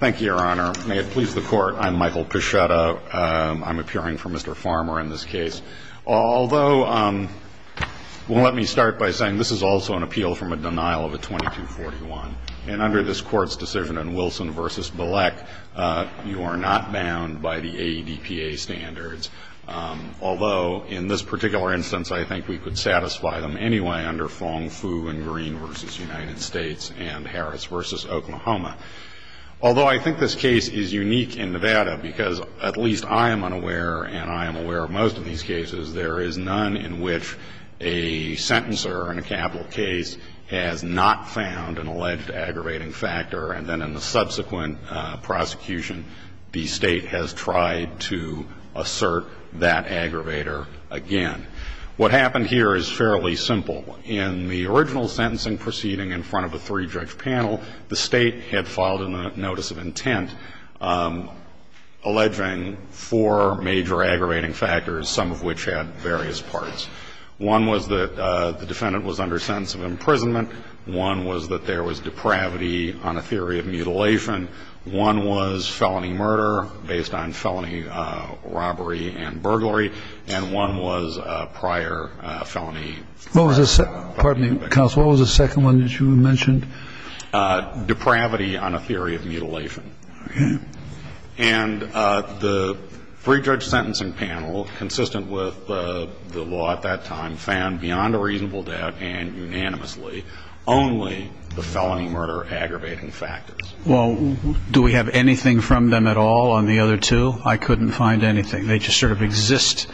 Thank you, your honor. May it please the court, I'm Michael Peschetta. I'm appearing for Mr. Farmer in this case. Although, well, let me start by saying this is also an appeal from a denial of a 2241. And under this court's decision in Wilson v. Bilek, you are not bound by the AEDPA standards. Although, in this particular instance, I think we could satisfy them anyway under Fong, Fu, and Green v. United States and Harris v. Oklahoma. Although, I think this case is unique in Nevada because at least I am unaware, and I am aware of most of these cases, there is none in which a sentencer in a capital case has not found an alleged aggravating factor. And then in the subsequent prosecution, the state has tried to assert that aggravator again. What happened here is fairly simple. In the original sentencing proceeding in front of a three-judge panel, the state had filed a notice of intent alleging four major aggravating factors, some of which had various parts. One was that the defendant was under sentence of imprisonment. One was that there was depravity on a theory of mutilation. One was felony murder based on felony robbery and burglary. And one was prior felony murder. What was the second one that you mentioned? Depravity on a theory of mutilation. And the three-judge sentencing panel, consistent with the law at that time, found beyond a reasonable doubt and unanimously only the felony murder aggravating factors. Well, do we have anything from them at all on the other two? I couldn't find anything. They just sort of exist.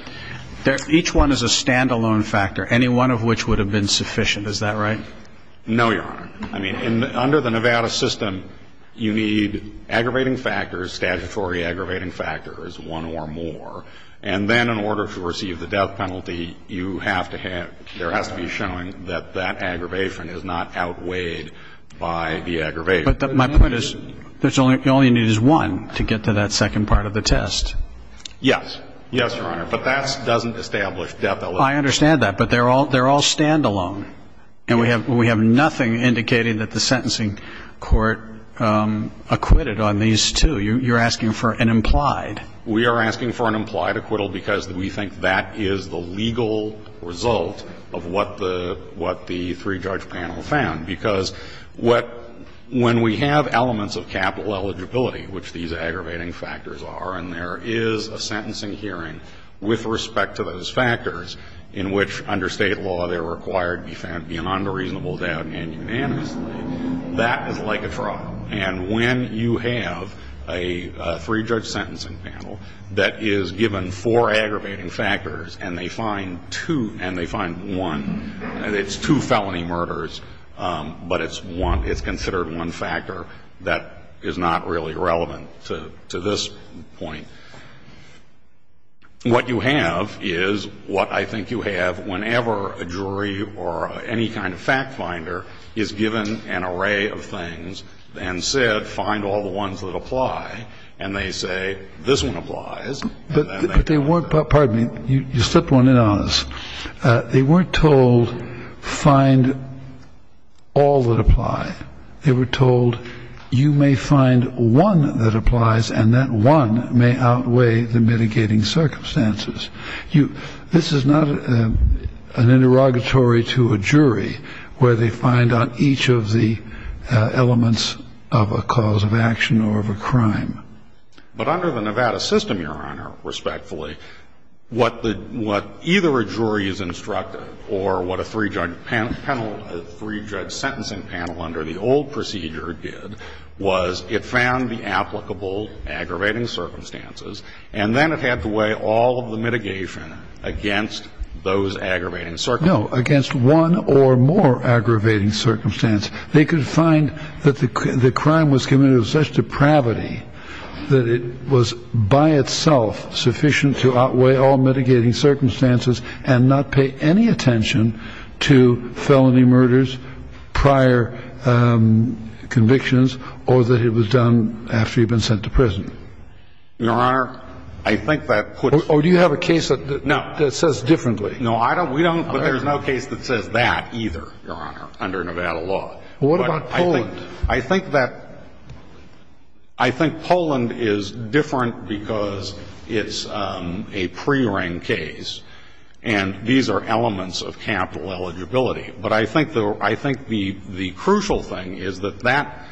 Each one is a standalone factor. Any one of which would have been sufficient. Is that right? No, Your Honor. I mean, under the Nevada system, you need aggravating factors, statutory aggravating factors, one or more. And then in order to receive the death penalty, you have to have, there has to be showing that that aggravation is not outweighed by the aggravation. But my point is, all you need is one to get to that second part of the test. Yes. Yes, Your Honor. But that doesn't establish death. I understand that. But they're all standalone. And we have nothing indicating that the sentencing court acquitted on these two. You're asking for an implied. We are asking for an implied acquittal because we think that is the legal result of what the three-judge panel found. Because when we have elements of capital eligibility, which these aggravating factors are, and there is a sentencing hearing with respect to those factors, in which under State law they're required to be found beyond a reasonable doubt and unanimously, that is like a trial. And when you have a three-judge sentencing panel that is given four aggravating factors and they find two and they find one, and it's two felony murders, but it's one, it's considered one factor, that is not really relevant to this point. What you have is what I think you have whenever a jury or any kind of fact finder is given an array of things and said, find all the ones that apply, and they say, this one applies. But they weren't – pardon me. You slipped one in on us. They weren't told, find all that apply. They were told, you may find one that applies and that one may outweigh the mitigating circumstances. This is not an interrogatory to a jury where they find out each of the elements of a cause of action or of a crime. But under the Nevada system, Your Honor, respectfully, what either a jury is instructed or what a three-judge panel – three-judge sentencing panel under the old procedure did was it found the applicable aggravating circumstances, and then it had to weigh all of the mitigation against those aggravating circumstances. No, against one or more aggravating circumstances. They could find that the crime was committed with such depravity that it was by itself sufficient to outweigh all mitigating circumstances and not pay any attention to felony murders, prior convictions, or that it was done after you've been sent to prison. Your Honor, I think that puts – Or do you have a case that says differently? No, I don't. We don't, but there's no case that says that either, Your Honor, under Nevada law. What about Poland? I think that – I think Poland is different because it's a pre-ring case, and these are elements of capital eligibility. But I think the crucial thing is that that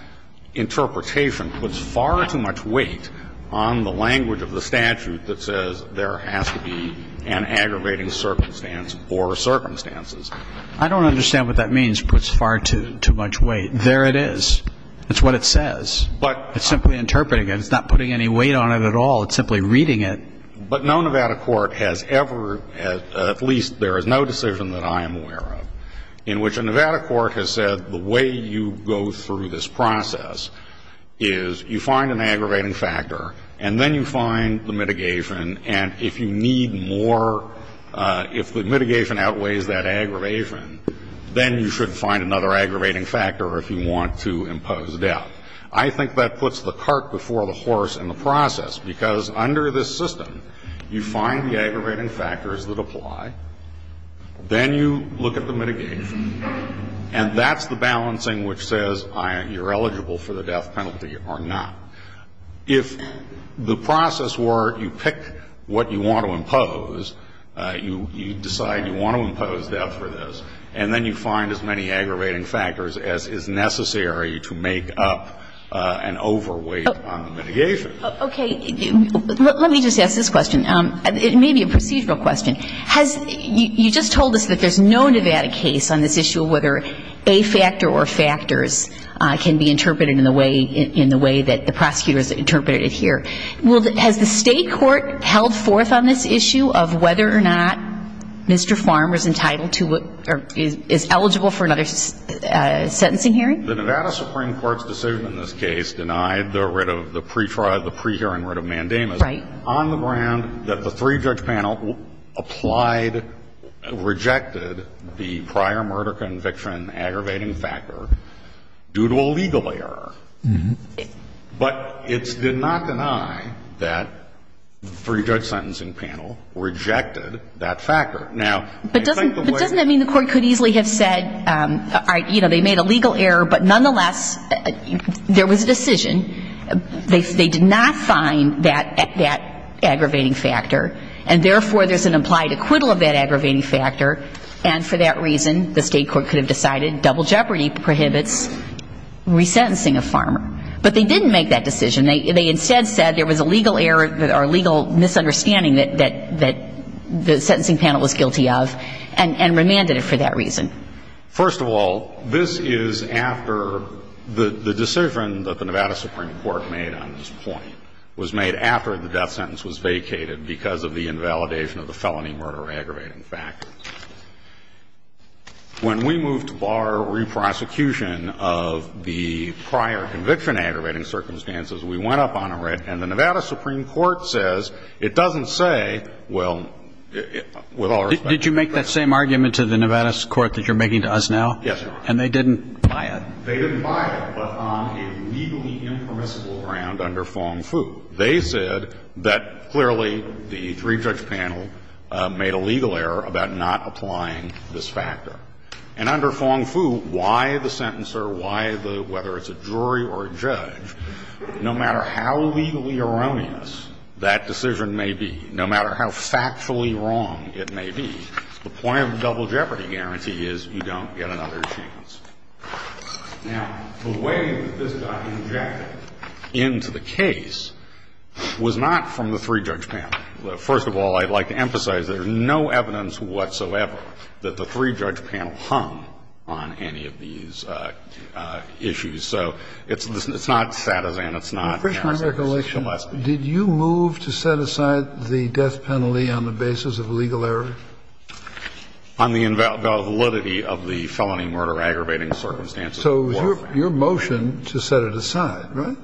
interpretation puts far too much weight on the language of the statute that says there has to be an aggravating circumstance or circumstances. I don't understand what that means, puts far too much weight. There it is. That's what it says. But – It's simply interpreting it. It's not putting any weight on it at all. It's simply reading it. But no Nevada court has ever – at least there is no decision that I am aware of in which a Nevada court has said the way you go through this process is you find an aggravating factor, and then you find the mitigation, and if you need more – if the mitigation outweighs that aggravation, then you should find another aggravating factor if you want to impose death. I think that puts the cart before the horse in the process because under this system, you find the aggravating factors that apply, then you look at the mitigation, and that's the balancing which says you're eligible for the death penalty or not. If the process were you pick what you want to impose, you decide you want to impose death for this, and then you find as many aggravating factors as is necessary to make up an overweight on the mitigation. Okay. Let me just ask this question. It may be a procedural question. You just told us that there's no Nevada case on this issue of whether a factor or Well, has the State court held forth on this issue of whether or not Mr. Farmer is entitled to – or is eligible for another sentencing hearing? The Nevada Supreme Court's decision in this case denied the writ of – the pre-trial – the pre-hearing writ of mandamus on the ground that the three-judge panel applied – rejected the prior murder conviction aggravating factor due to a legal error. But it did not deny that the three-judge sentencing panel rejected that factor. Now – But doesn't that mean the court could easily have said, you know, they made a legal error, but nonetheless there was a decision. They did not find that aggravating factor, and therefore there's an implied acquittal of that aggravating factor, and for that reason the State court could have decided that double jeopardy prohibits resentencing of Farmer. But they didn't make that decision. They instead said there was a legal error or a legal misunderstanding that the sentencing panel was guilty of and remanded it for that reason. First of all, this is after – the decision that the Nevada Supreme Court made on this point was made after the death sentence was vacated because of the invalidation of the felony murder aggravating factor. When we moved to bar re-prosecution of the prior conviction aggravating circumstances, we went up on it, and the Nevada Supreme Court says it doesn't say, well, with all respect – Did you make that same argument to the Nevada court that you're making to us now? Yes, Your Honor. And they didn't buy it. They didn't buy it, but on a legally impermissible ground under Fong-Fu. They said that clearly the three-judge panel made a legal error about not applying this factor. And under Fong-Fu, why the sentencer, why the – whether it's a jury or a judge, no matter how legally erroneous that decision may be, no matter how factually wrong it may be, the point of the double jeopardy guarantee is you don't get another chance. Now, the way this got injected into the case was not from the three-judge panel. First of all, I'd like to emphasize there's no evidence whatsoever that the three-judge panel hung on any of these issues. So it's not Satizan, it's not Harris, it's Cholesky. Well, Christian, in recollection, did you move to set aside the death penalty on the basis of legal error? On the validity of the felony murder aggravating circumstances. So your motion to set it aside, right?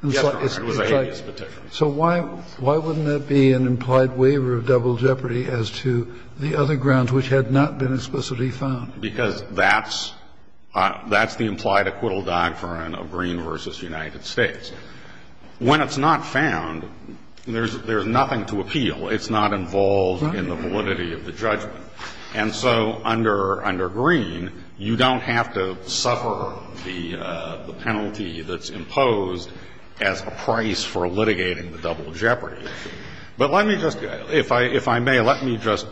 Yes, Your Honor. It was a habeas petition. So why wouldn't that be an implied waiver of double jeopardy as to the other grounds which had not been explicitly found? Because that's the implied acquittal diaphragm of Green v. United States. When it's not found, there's nothing to appeal. It's not involved in the validity of the judgment. And so under Green, you don't have to suffer the penalty that's imposed as a price for litigating the double jeopardy issue. But let me just, if I may, let me just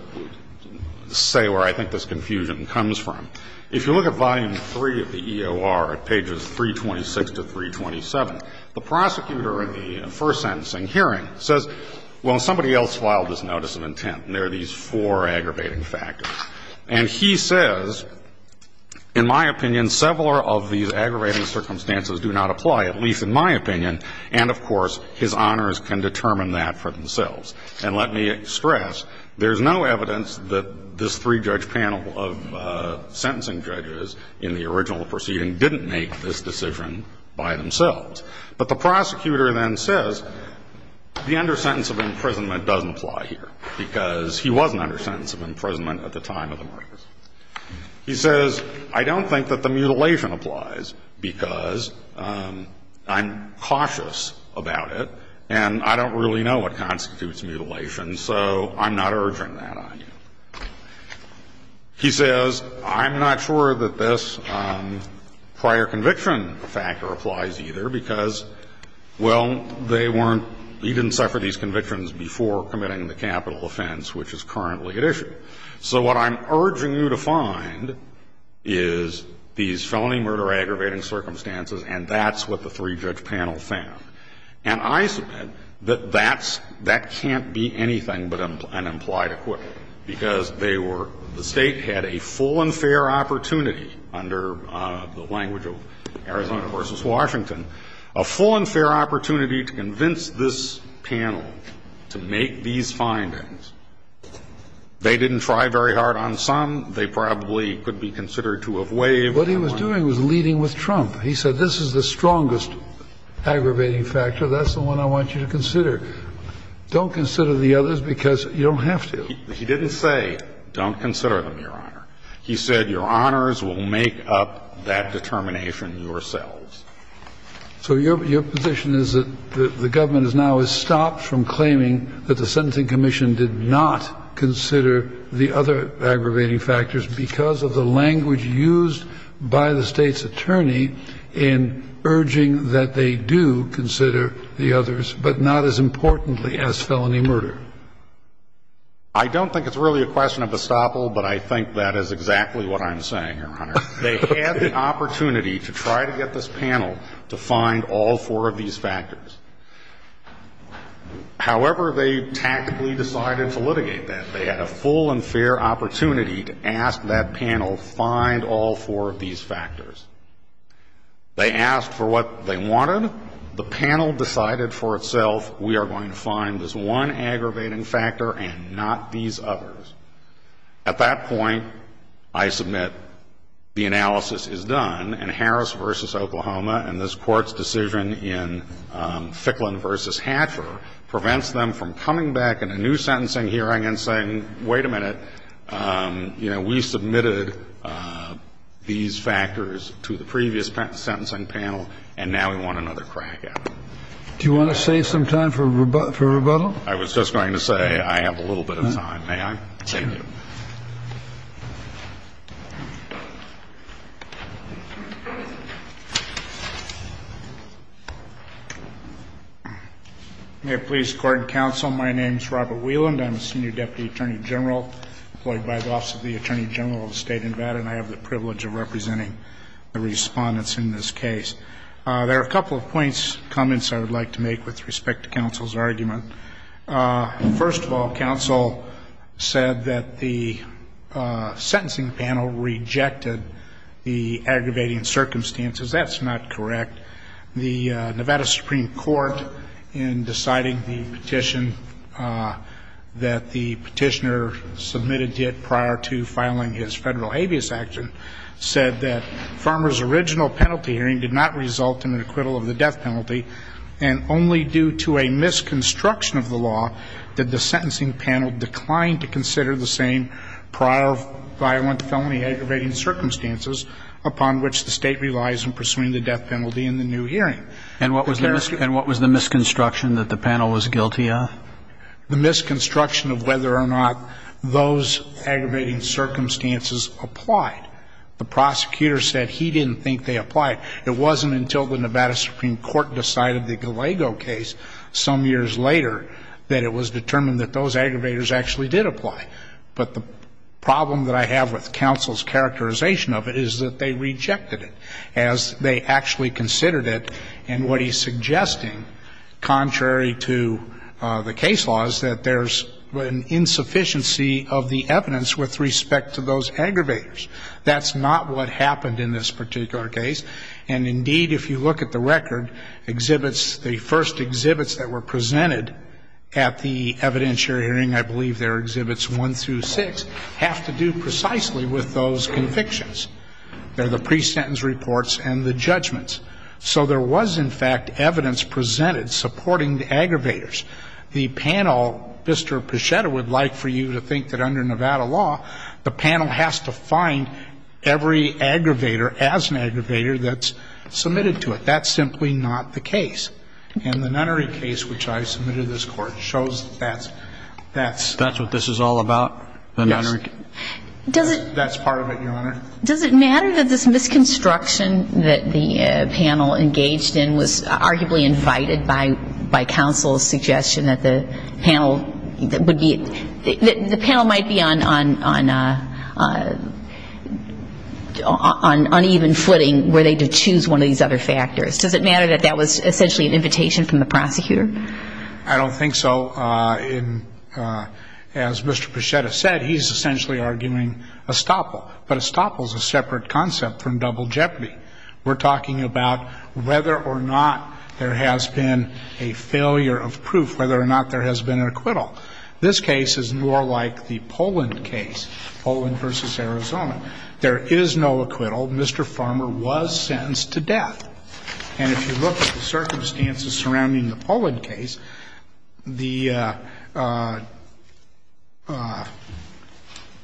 say where I think this confusion comes from. If you look at volume 3 of the EOR at pages 326 to 327, the prosecutor in the first sentencing hearing says, well, somebody else filed this notice of intent, and there are these four aggravating factors. And he says, in my opinion, several of these aggravating circumstances do not apply, at least in my opinion, and, of course, his honors can determine that for themselves. And let me stress, there's no evidence that this three-judge panel of sentencing judges in the original proceeding didn't make this decision by themselves. But the prosecutor then says, the undersentence of imprisonment doesn't apply here because he wasn't under sentence of imprisonment at the time of the murder. He says, I don't think that the mutilation applies because I'm cautious about it and I don't really know what constitutes mutilation, so I'm not urging that on you. He says, I'm not sure that this prior conviction factor applies either because well, they weren't, he didn't suffer these convictions before committing the capital offense which is currently at issue. So what I'm urging you to find is these felony murder aggravating circumstances and that's what the three-judge panel found. And I submit that that's, that can't be anything but an implied equivalent because they were, the State had a full and fair opportunity under the language of Arizona v. Washington, a full and fair opportunity to convince this panel to make these findings. They didn't try very hard on some. They probably could be considered to have waived. What he was doing was leading with Trump. He said, this is the strongest aggravating factor, that's the one I want you to consider. Don't consider the others because you don't have to. He didn't say, don't consider them, Your Honor. He said, Your Honors will make up that determination yourselves. So your position is that the government has now stopped from claiming that the Sentencing Commission did not consider the other aggravating factors because of the language used by the State's attorney in urging that they do consider the others, but not as importantly as felony murder. I don't think it's really a question of estoppel, but I think that is exactly what I'm saying, Your Honor. They had the opportunity to try to get this panel to find all four of these factors. However, they tactically decided to litigate that. They had a full and fair opportunity to ask that panel, find all four of these factors. They asked for what they wanted. When the panel decided for itself, we are going to find this one aggravating factor and not these others, at that point, I submit the analysis is done, and Harris v. Oklahoma and this Court's decision in Ficklin v. Hatcher prevents them from coming back in a new sentencing hearing and saying, wait a minute, you know, we submitted these factors to the previous sentencing panel, and now we want another one. panel decided to help that panel, not to get another crack at them. Do you want to save some time for rebuttal? I was just going to say I have a little bit of time. May I? Please, Your Honor. May it please the Court and counsel, my name is Robert Wheeland. I'm a senior deputy attorney general employed by the Office of the Attorney General of the State of Nevada, and I have the privilege of representing the respondents in this case. There are a couple of comments I would like to make with respect to counsel's argument. First of all, counsel said that the sentencing panel rejected the aggravating circumstances. That's not correct. The Nevada Supreme Court, in deciding the petition that the petitioner submitted to it prior to his federal habeas action, said that Farmer's original penalty hearing did not result in an acquittal of the death penalty, and only due to a misconstruction of the law did the sentencing panel decline to consider the same prior violent felony aggravating circumstances upon which the State relies in pursuing the death penalty in the new hearing. And what was the misconstruction that the panel was guilty of? The misconstruction of whether or not those aggravating circumstances applied. The prosecutor said he didn't think they applied. It wasn't until the Nevada Supreme Court decided the Gallego case some years later that it was determined that those aggravators actually did apply. But the problem that I have with counsel's characterization of it is that they rejected it, as they actually considered it. And what he's suggesting, contrary to the case laws, that there's an insufficiency of the evidence with respect to those aggravators. That's not what happened in this particular case. And, indeed, if you look at the record, exhibits, the first exhibits that were presented at the evidentiary hearing, I believe they're Exhibits 1 through 6, have to do precisely with those convictions. They're the pre-sentence reports and the judgments. So there was, in fact, evidence presented supporting the aggravators. The panel, Mr. Pichetta would like for you to think that under Nevada law, the panel has to find every aggravator as an aggravator that's submitted to it. That's simply not the case. And the Nunnery case, which I submitted to this Court, shows that that's the case. That's what this is all about? The Nunnery case? That's part of it, Your Honor. Does it matter that this misconstruction that the panel engaged in was arguably invited by counsel's suggestion that the panel might be on uneven footing where they could choose one of these other factors? Does it matter that that was essentially an invitation from the prosecutor? I don't think so. As Mr. Pichetta said, he's essentially arguing estoppel. But estoppel is a separate concept from double jeopardy. We're talking about whether or not there has been a failure of proof, whether or not there has been an acquittal. This case is more like the Poland case, Poland v. Arizona. There is no acquittal. Mr. Farmer was sentenced to death. And if you look at the circumstances surrounding the Poland case, the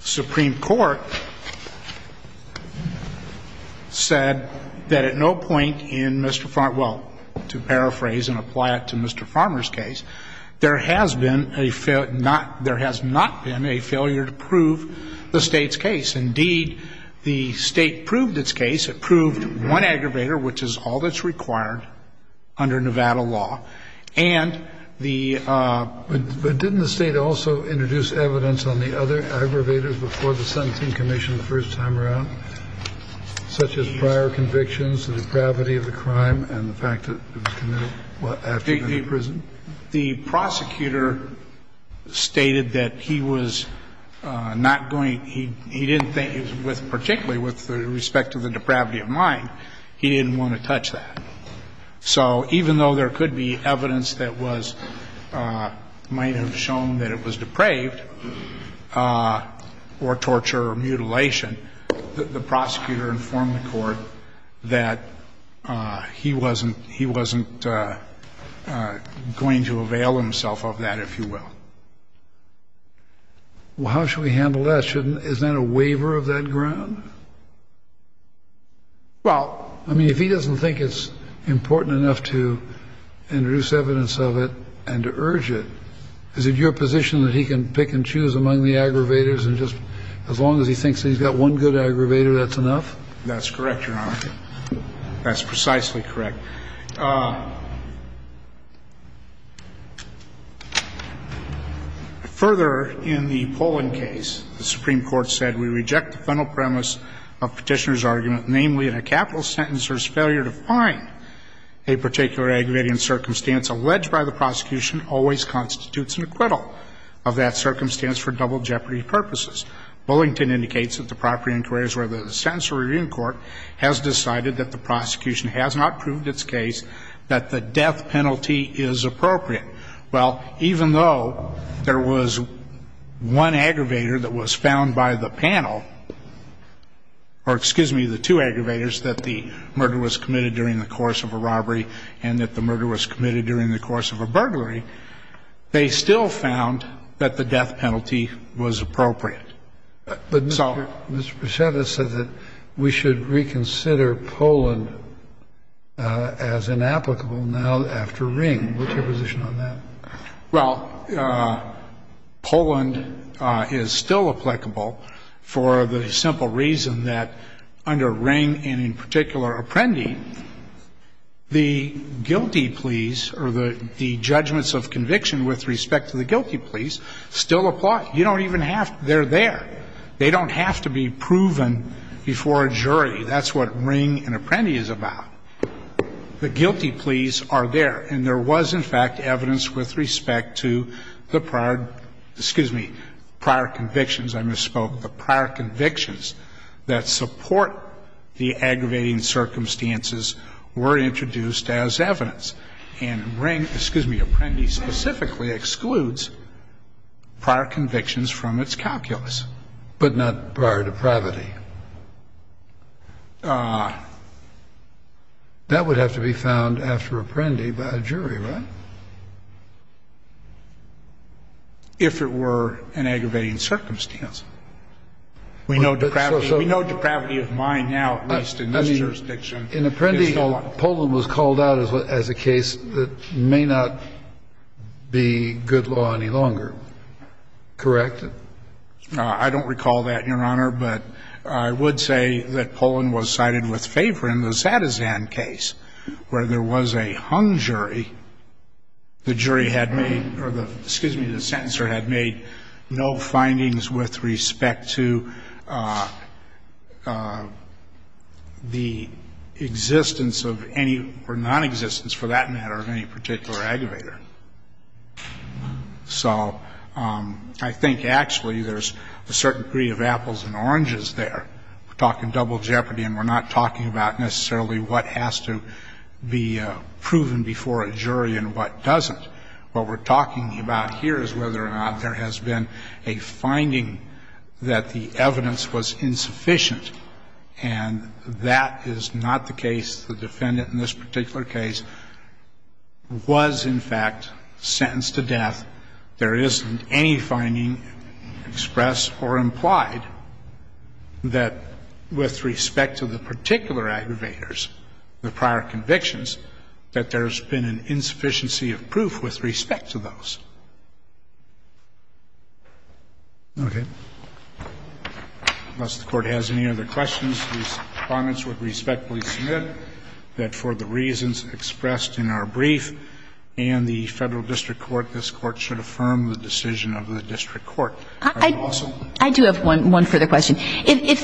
Supreme Court said that at no point in Mr. Farmer's case, well, to paraphrase and apply it to Mr. Farmer's case, there has been a failure, there has not been a failure to prove the State's case. Indeed, the State proved its case. It proved one aggravator, which is all that's required under Nevada law. And the ---- But didn't the State also introduce evidence on the other aggravators before the sentencing commission the first time around, such as prior convictions, the depravity of the crime, and the fact that it was committed after going to prison? The prosecutor stated that he was not going to ---- he didn't think, particularly with respect to the depravity of mine, he didn't want to touch that. So even though there could be evidence that was ---- might have shown that it was depraved or torture or mutilation, the prosecutor informed the Court that he wasn't ---- he wasn't going to avail himself of that, if you will. Well, how should we handle that? Well, I mean, if he doesn't think it's important enough to introduce evidence of it and to urge it, is it your position that he can pick and choose among the aggravators and just as long as he thinks that he's got one good aggravator, that's enough? That's correct, Your Honor. That's precisely correct. Further, in the Poland case, the Supreme Court said we reject the final premise of Petitioner's argument, namely, in a capital sentence there's failure to find a particular aggravating circumstance alleged by the prosecution always constitutes an acquittal of that circumstance for double jeopardy purposes. Bullington indicates that the proper inquiry is where the sentencing review court has decided that the prosecution has not proved its case, that the death penalty is appropriate. Well, even though there was one aggravator that was found by the panel, or excuse me, the two aggravators, that the murder was committed during the course of a robbery and that the murder was committed during the course of a burglary, they still found that the death penalty was appropriate. But Mr. Prasad has said that we should reconsider Poland as inapplicable now after Ring. What's your position on that? Well, Poland is still applicable for the simple reason that under Ring and in particular Apprendi, the guilty pleas or the judgments of conviction with respect to the guilty pleas still apply. You don't even have to. They're there. They don't have to be proven before a jury. That's what Ring and Apprendi is about. The guilty pleas are there. And there was, in fact, evidence with respect to the prior, excuse me, prior convictions I misspoke. The prior convictions that support the aggravating circumstances were introduced as evidence. And Ring, excuse me, Apprendi specifically excludes prior convictions from its calculus. But not prior depravity. That would have to be found after Apprendi by a jury, right? If it were an aggravating circumstance. We know depravity of mind now at least in this jurisdiction. In Apprendi, Poland was called out as a case that may not be good law any longer. Correct? I don't recall that, Your Honor. But I would say that Poland was cited with favor in the Sadezan case where there was a hung jury. The jury had made or the, excuse me, the sentencer had made no findings with respect to the existence of any or nonexistence for that matter of any particular aggravator. So I think actually there's a certain degree of apples and oranges there. We're talking double jeopardy and we're not talking about necessarily what has to be proven before a jury and what doesn't. What we're talking about here is whether or not there has been a finding that the evidence was insufficient. And that is not the case. The defendant in this particular case was, in fact, sentenced to death. There isn't any finding expressed or implied that with respect to the particular aggravators, the prior convictions, that there's been an insufficiency of proof with respect to those. Okay. Unless the Court has any other questions, these comments would respectfully submit that for the reasons expressed in our brief and the Federal district court, this Court should affirm the decision of the district court. Are you also? I do have one further question. If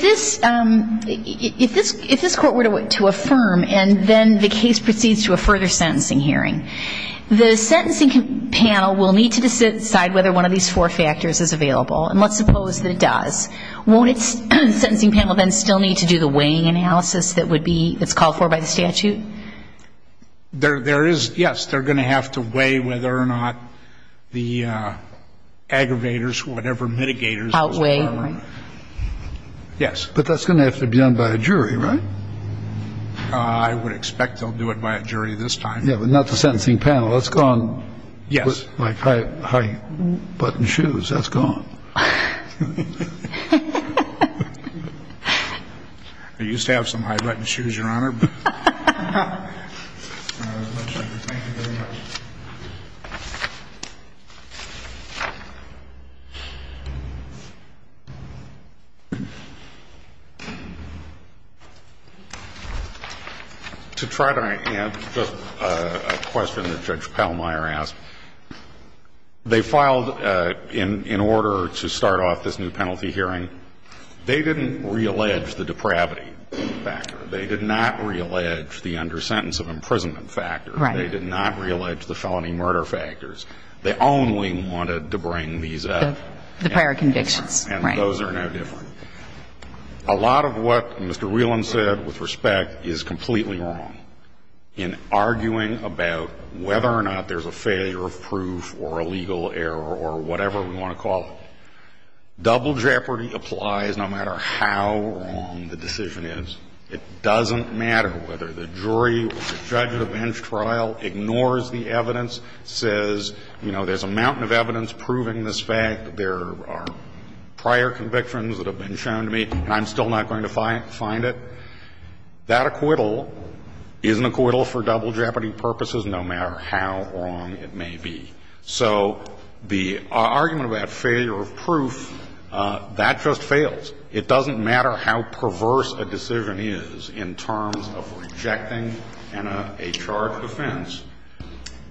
this Court were to affirm and then the case proceeds to a further sentencing hearing, the sentencing panel will need to decide whether one of these four factors is available. And let's suppose that it does. Won't the sentencing panel then still need to do the weighing analysis that would be called for by the statute? There is, yes. They're going to have to weigh whether or not the aggravators, whatever mitigators are available. Yes. But that's going to have to be done by a jury, right? I would expect they'll do it by a jury this time. Yeah, but not the sentencing panel. That's gone. Yes. Like high-button shoes. That's gone. I used to have some high-button shoes, Your Honor. Thank you very much. To try to answer a question that Judge Pallmeyer asked, they filed in order to start off this new penalty hearing, they didn't reallege the depravity factor. They did not reallege the under-sentence of imprisonment factor. Right. They did not reallege the felony murder factors. They only wanted to bring these up. The prior convictions. Right. And those are no different. A lot of what Mr. Whelan said, with respect, is completely wrong in arguing about whether or not there's a failure of proof or a legal error or whatever we want to call it. Double jeopardy applies no matter how wrong the decision is. It doesn't matter whether the jury or the judge at a bench trial ignores the evidence, says, you know, there's a mountain of evidence proving this fact, there are prior convictions that have been shown to me, and I'm still not going to find it. That acquittal isn't acquittal for double jeopardy purposes, no matter how wrong it may be. So the argument about failure of proof, that just fails. It doesn't matter how perverse a decision is in terms of rejecting a charge of offense,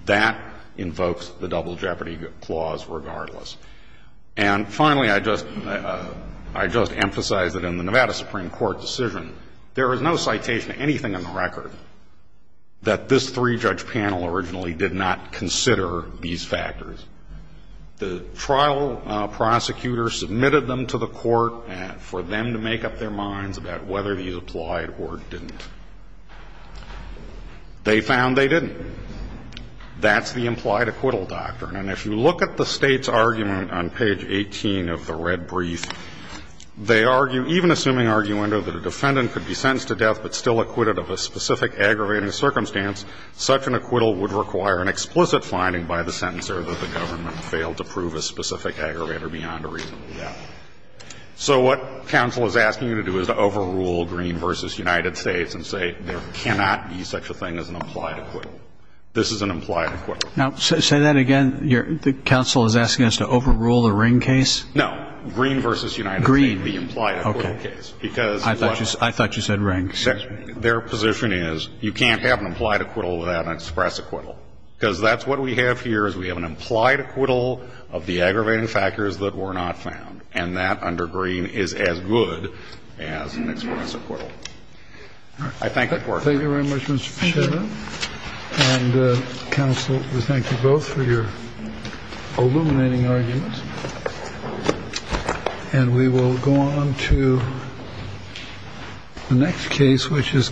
that invokes the double jeopardy clause regardless. And finally, I just emphasize that in the Nevada Supreme Court decision, there is no citation of anything on the record that this three-judge panel originally did not consider these factors. The trial prosecutor submitted them to the court for them to make up their minds about whether these applied or didn't. They found they didn't. That's the implied acquittal doctrine. And if you look at the State's argument on page 18 of the red brief, they argue, even assuming arguendo that a defendant could be sentenced to death but still acquitted of a specific aggravating circumstance, such an acquittal would require an explicit finding by the sentencer that the government failed to prove a specific aggravator beyond a reasonable doubt. So what counsel is asking you to do is to overrule Green v. United States and say there cannot be such a thing as an implied acquittal. This is an implied acquittal. Now, say that again. The counsel is asking us to overrule the Ring case? No. Green v. United States. Green. The implied acquittal case. Okay. I thought you said Ring. Their position is you can't have an implied acquittal without an express acquittal, because that's what we have here is we have an implied acquittal of the aggravating factors that were not found, and that under Green is as good as an express acquittal. All right. I thank you for your time. Thank you very much, Mr. Pichetta. And counsel, we thank you both for your illuminating arguments. And we will go on to the next case, which is.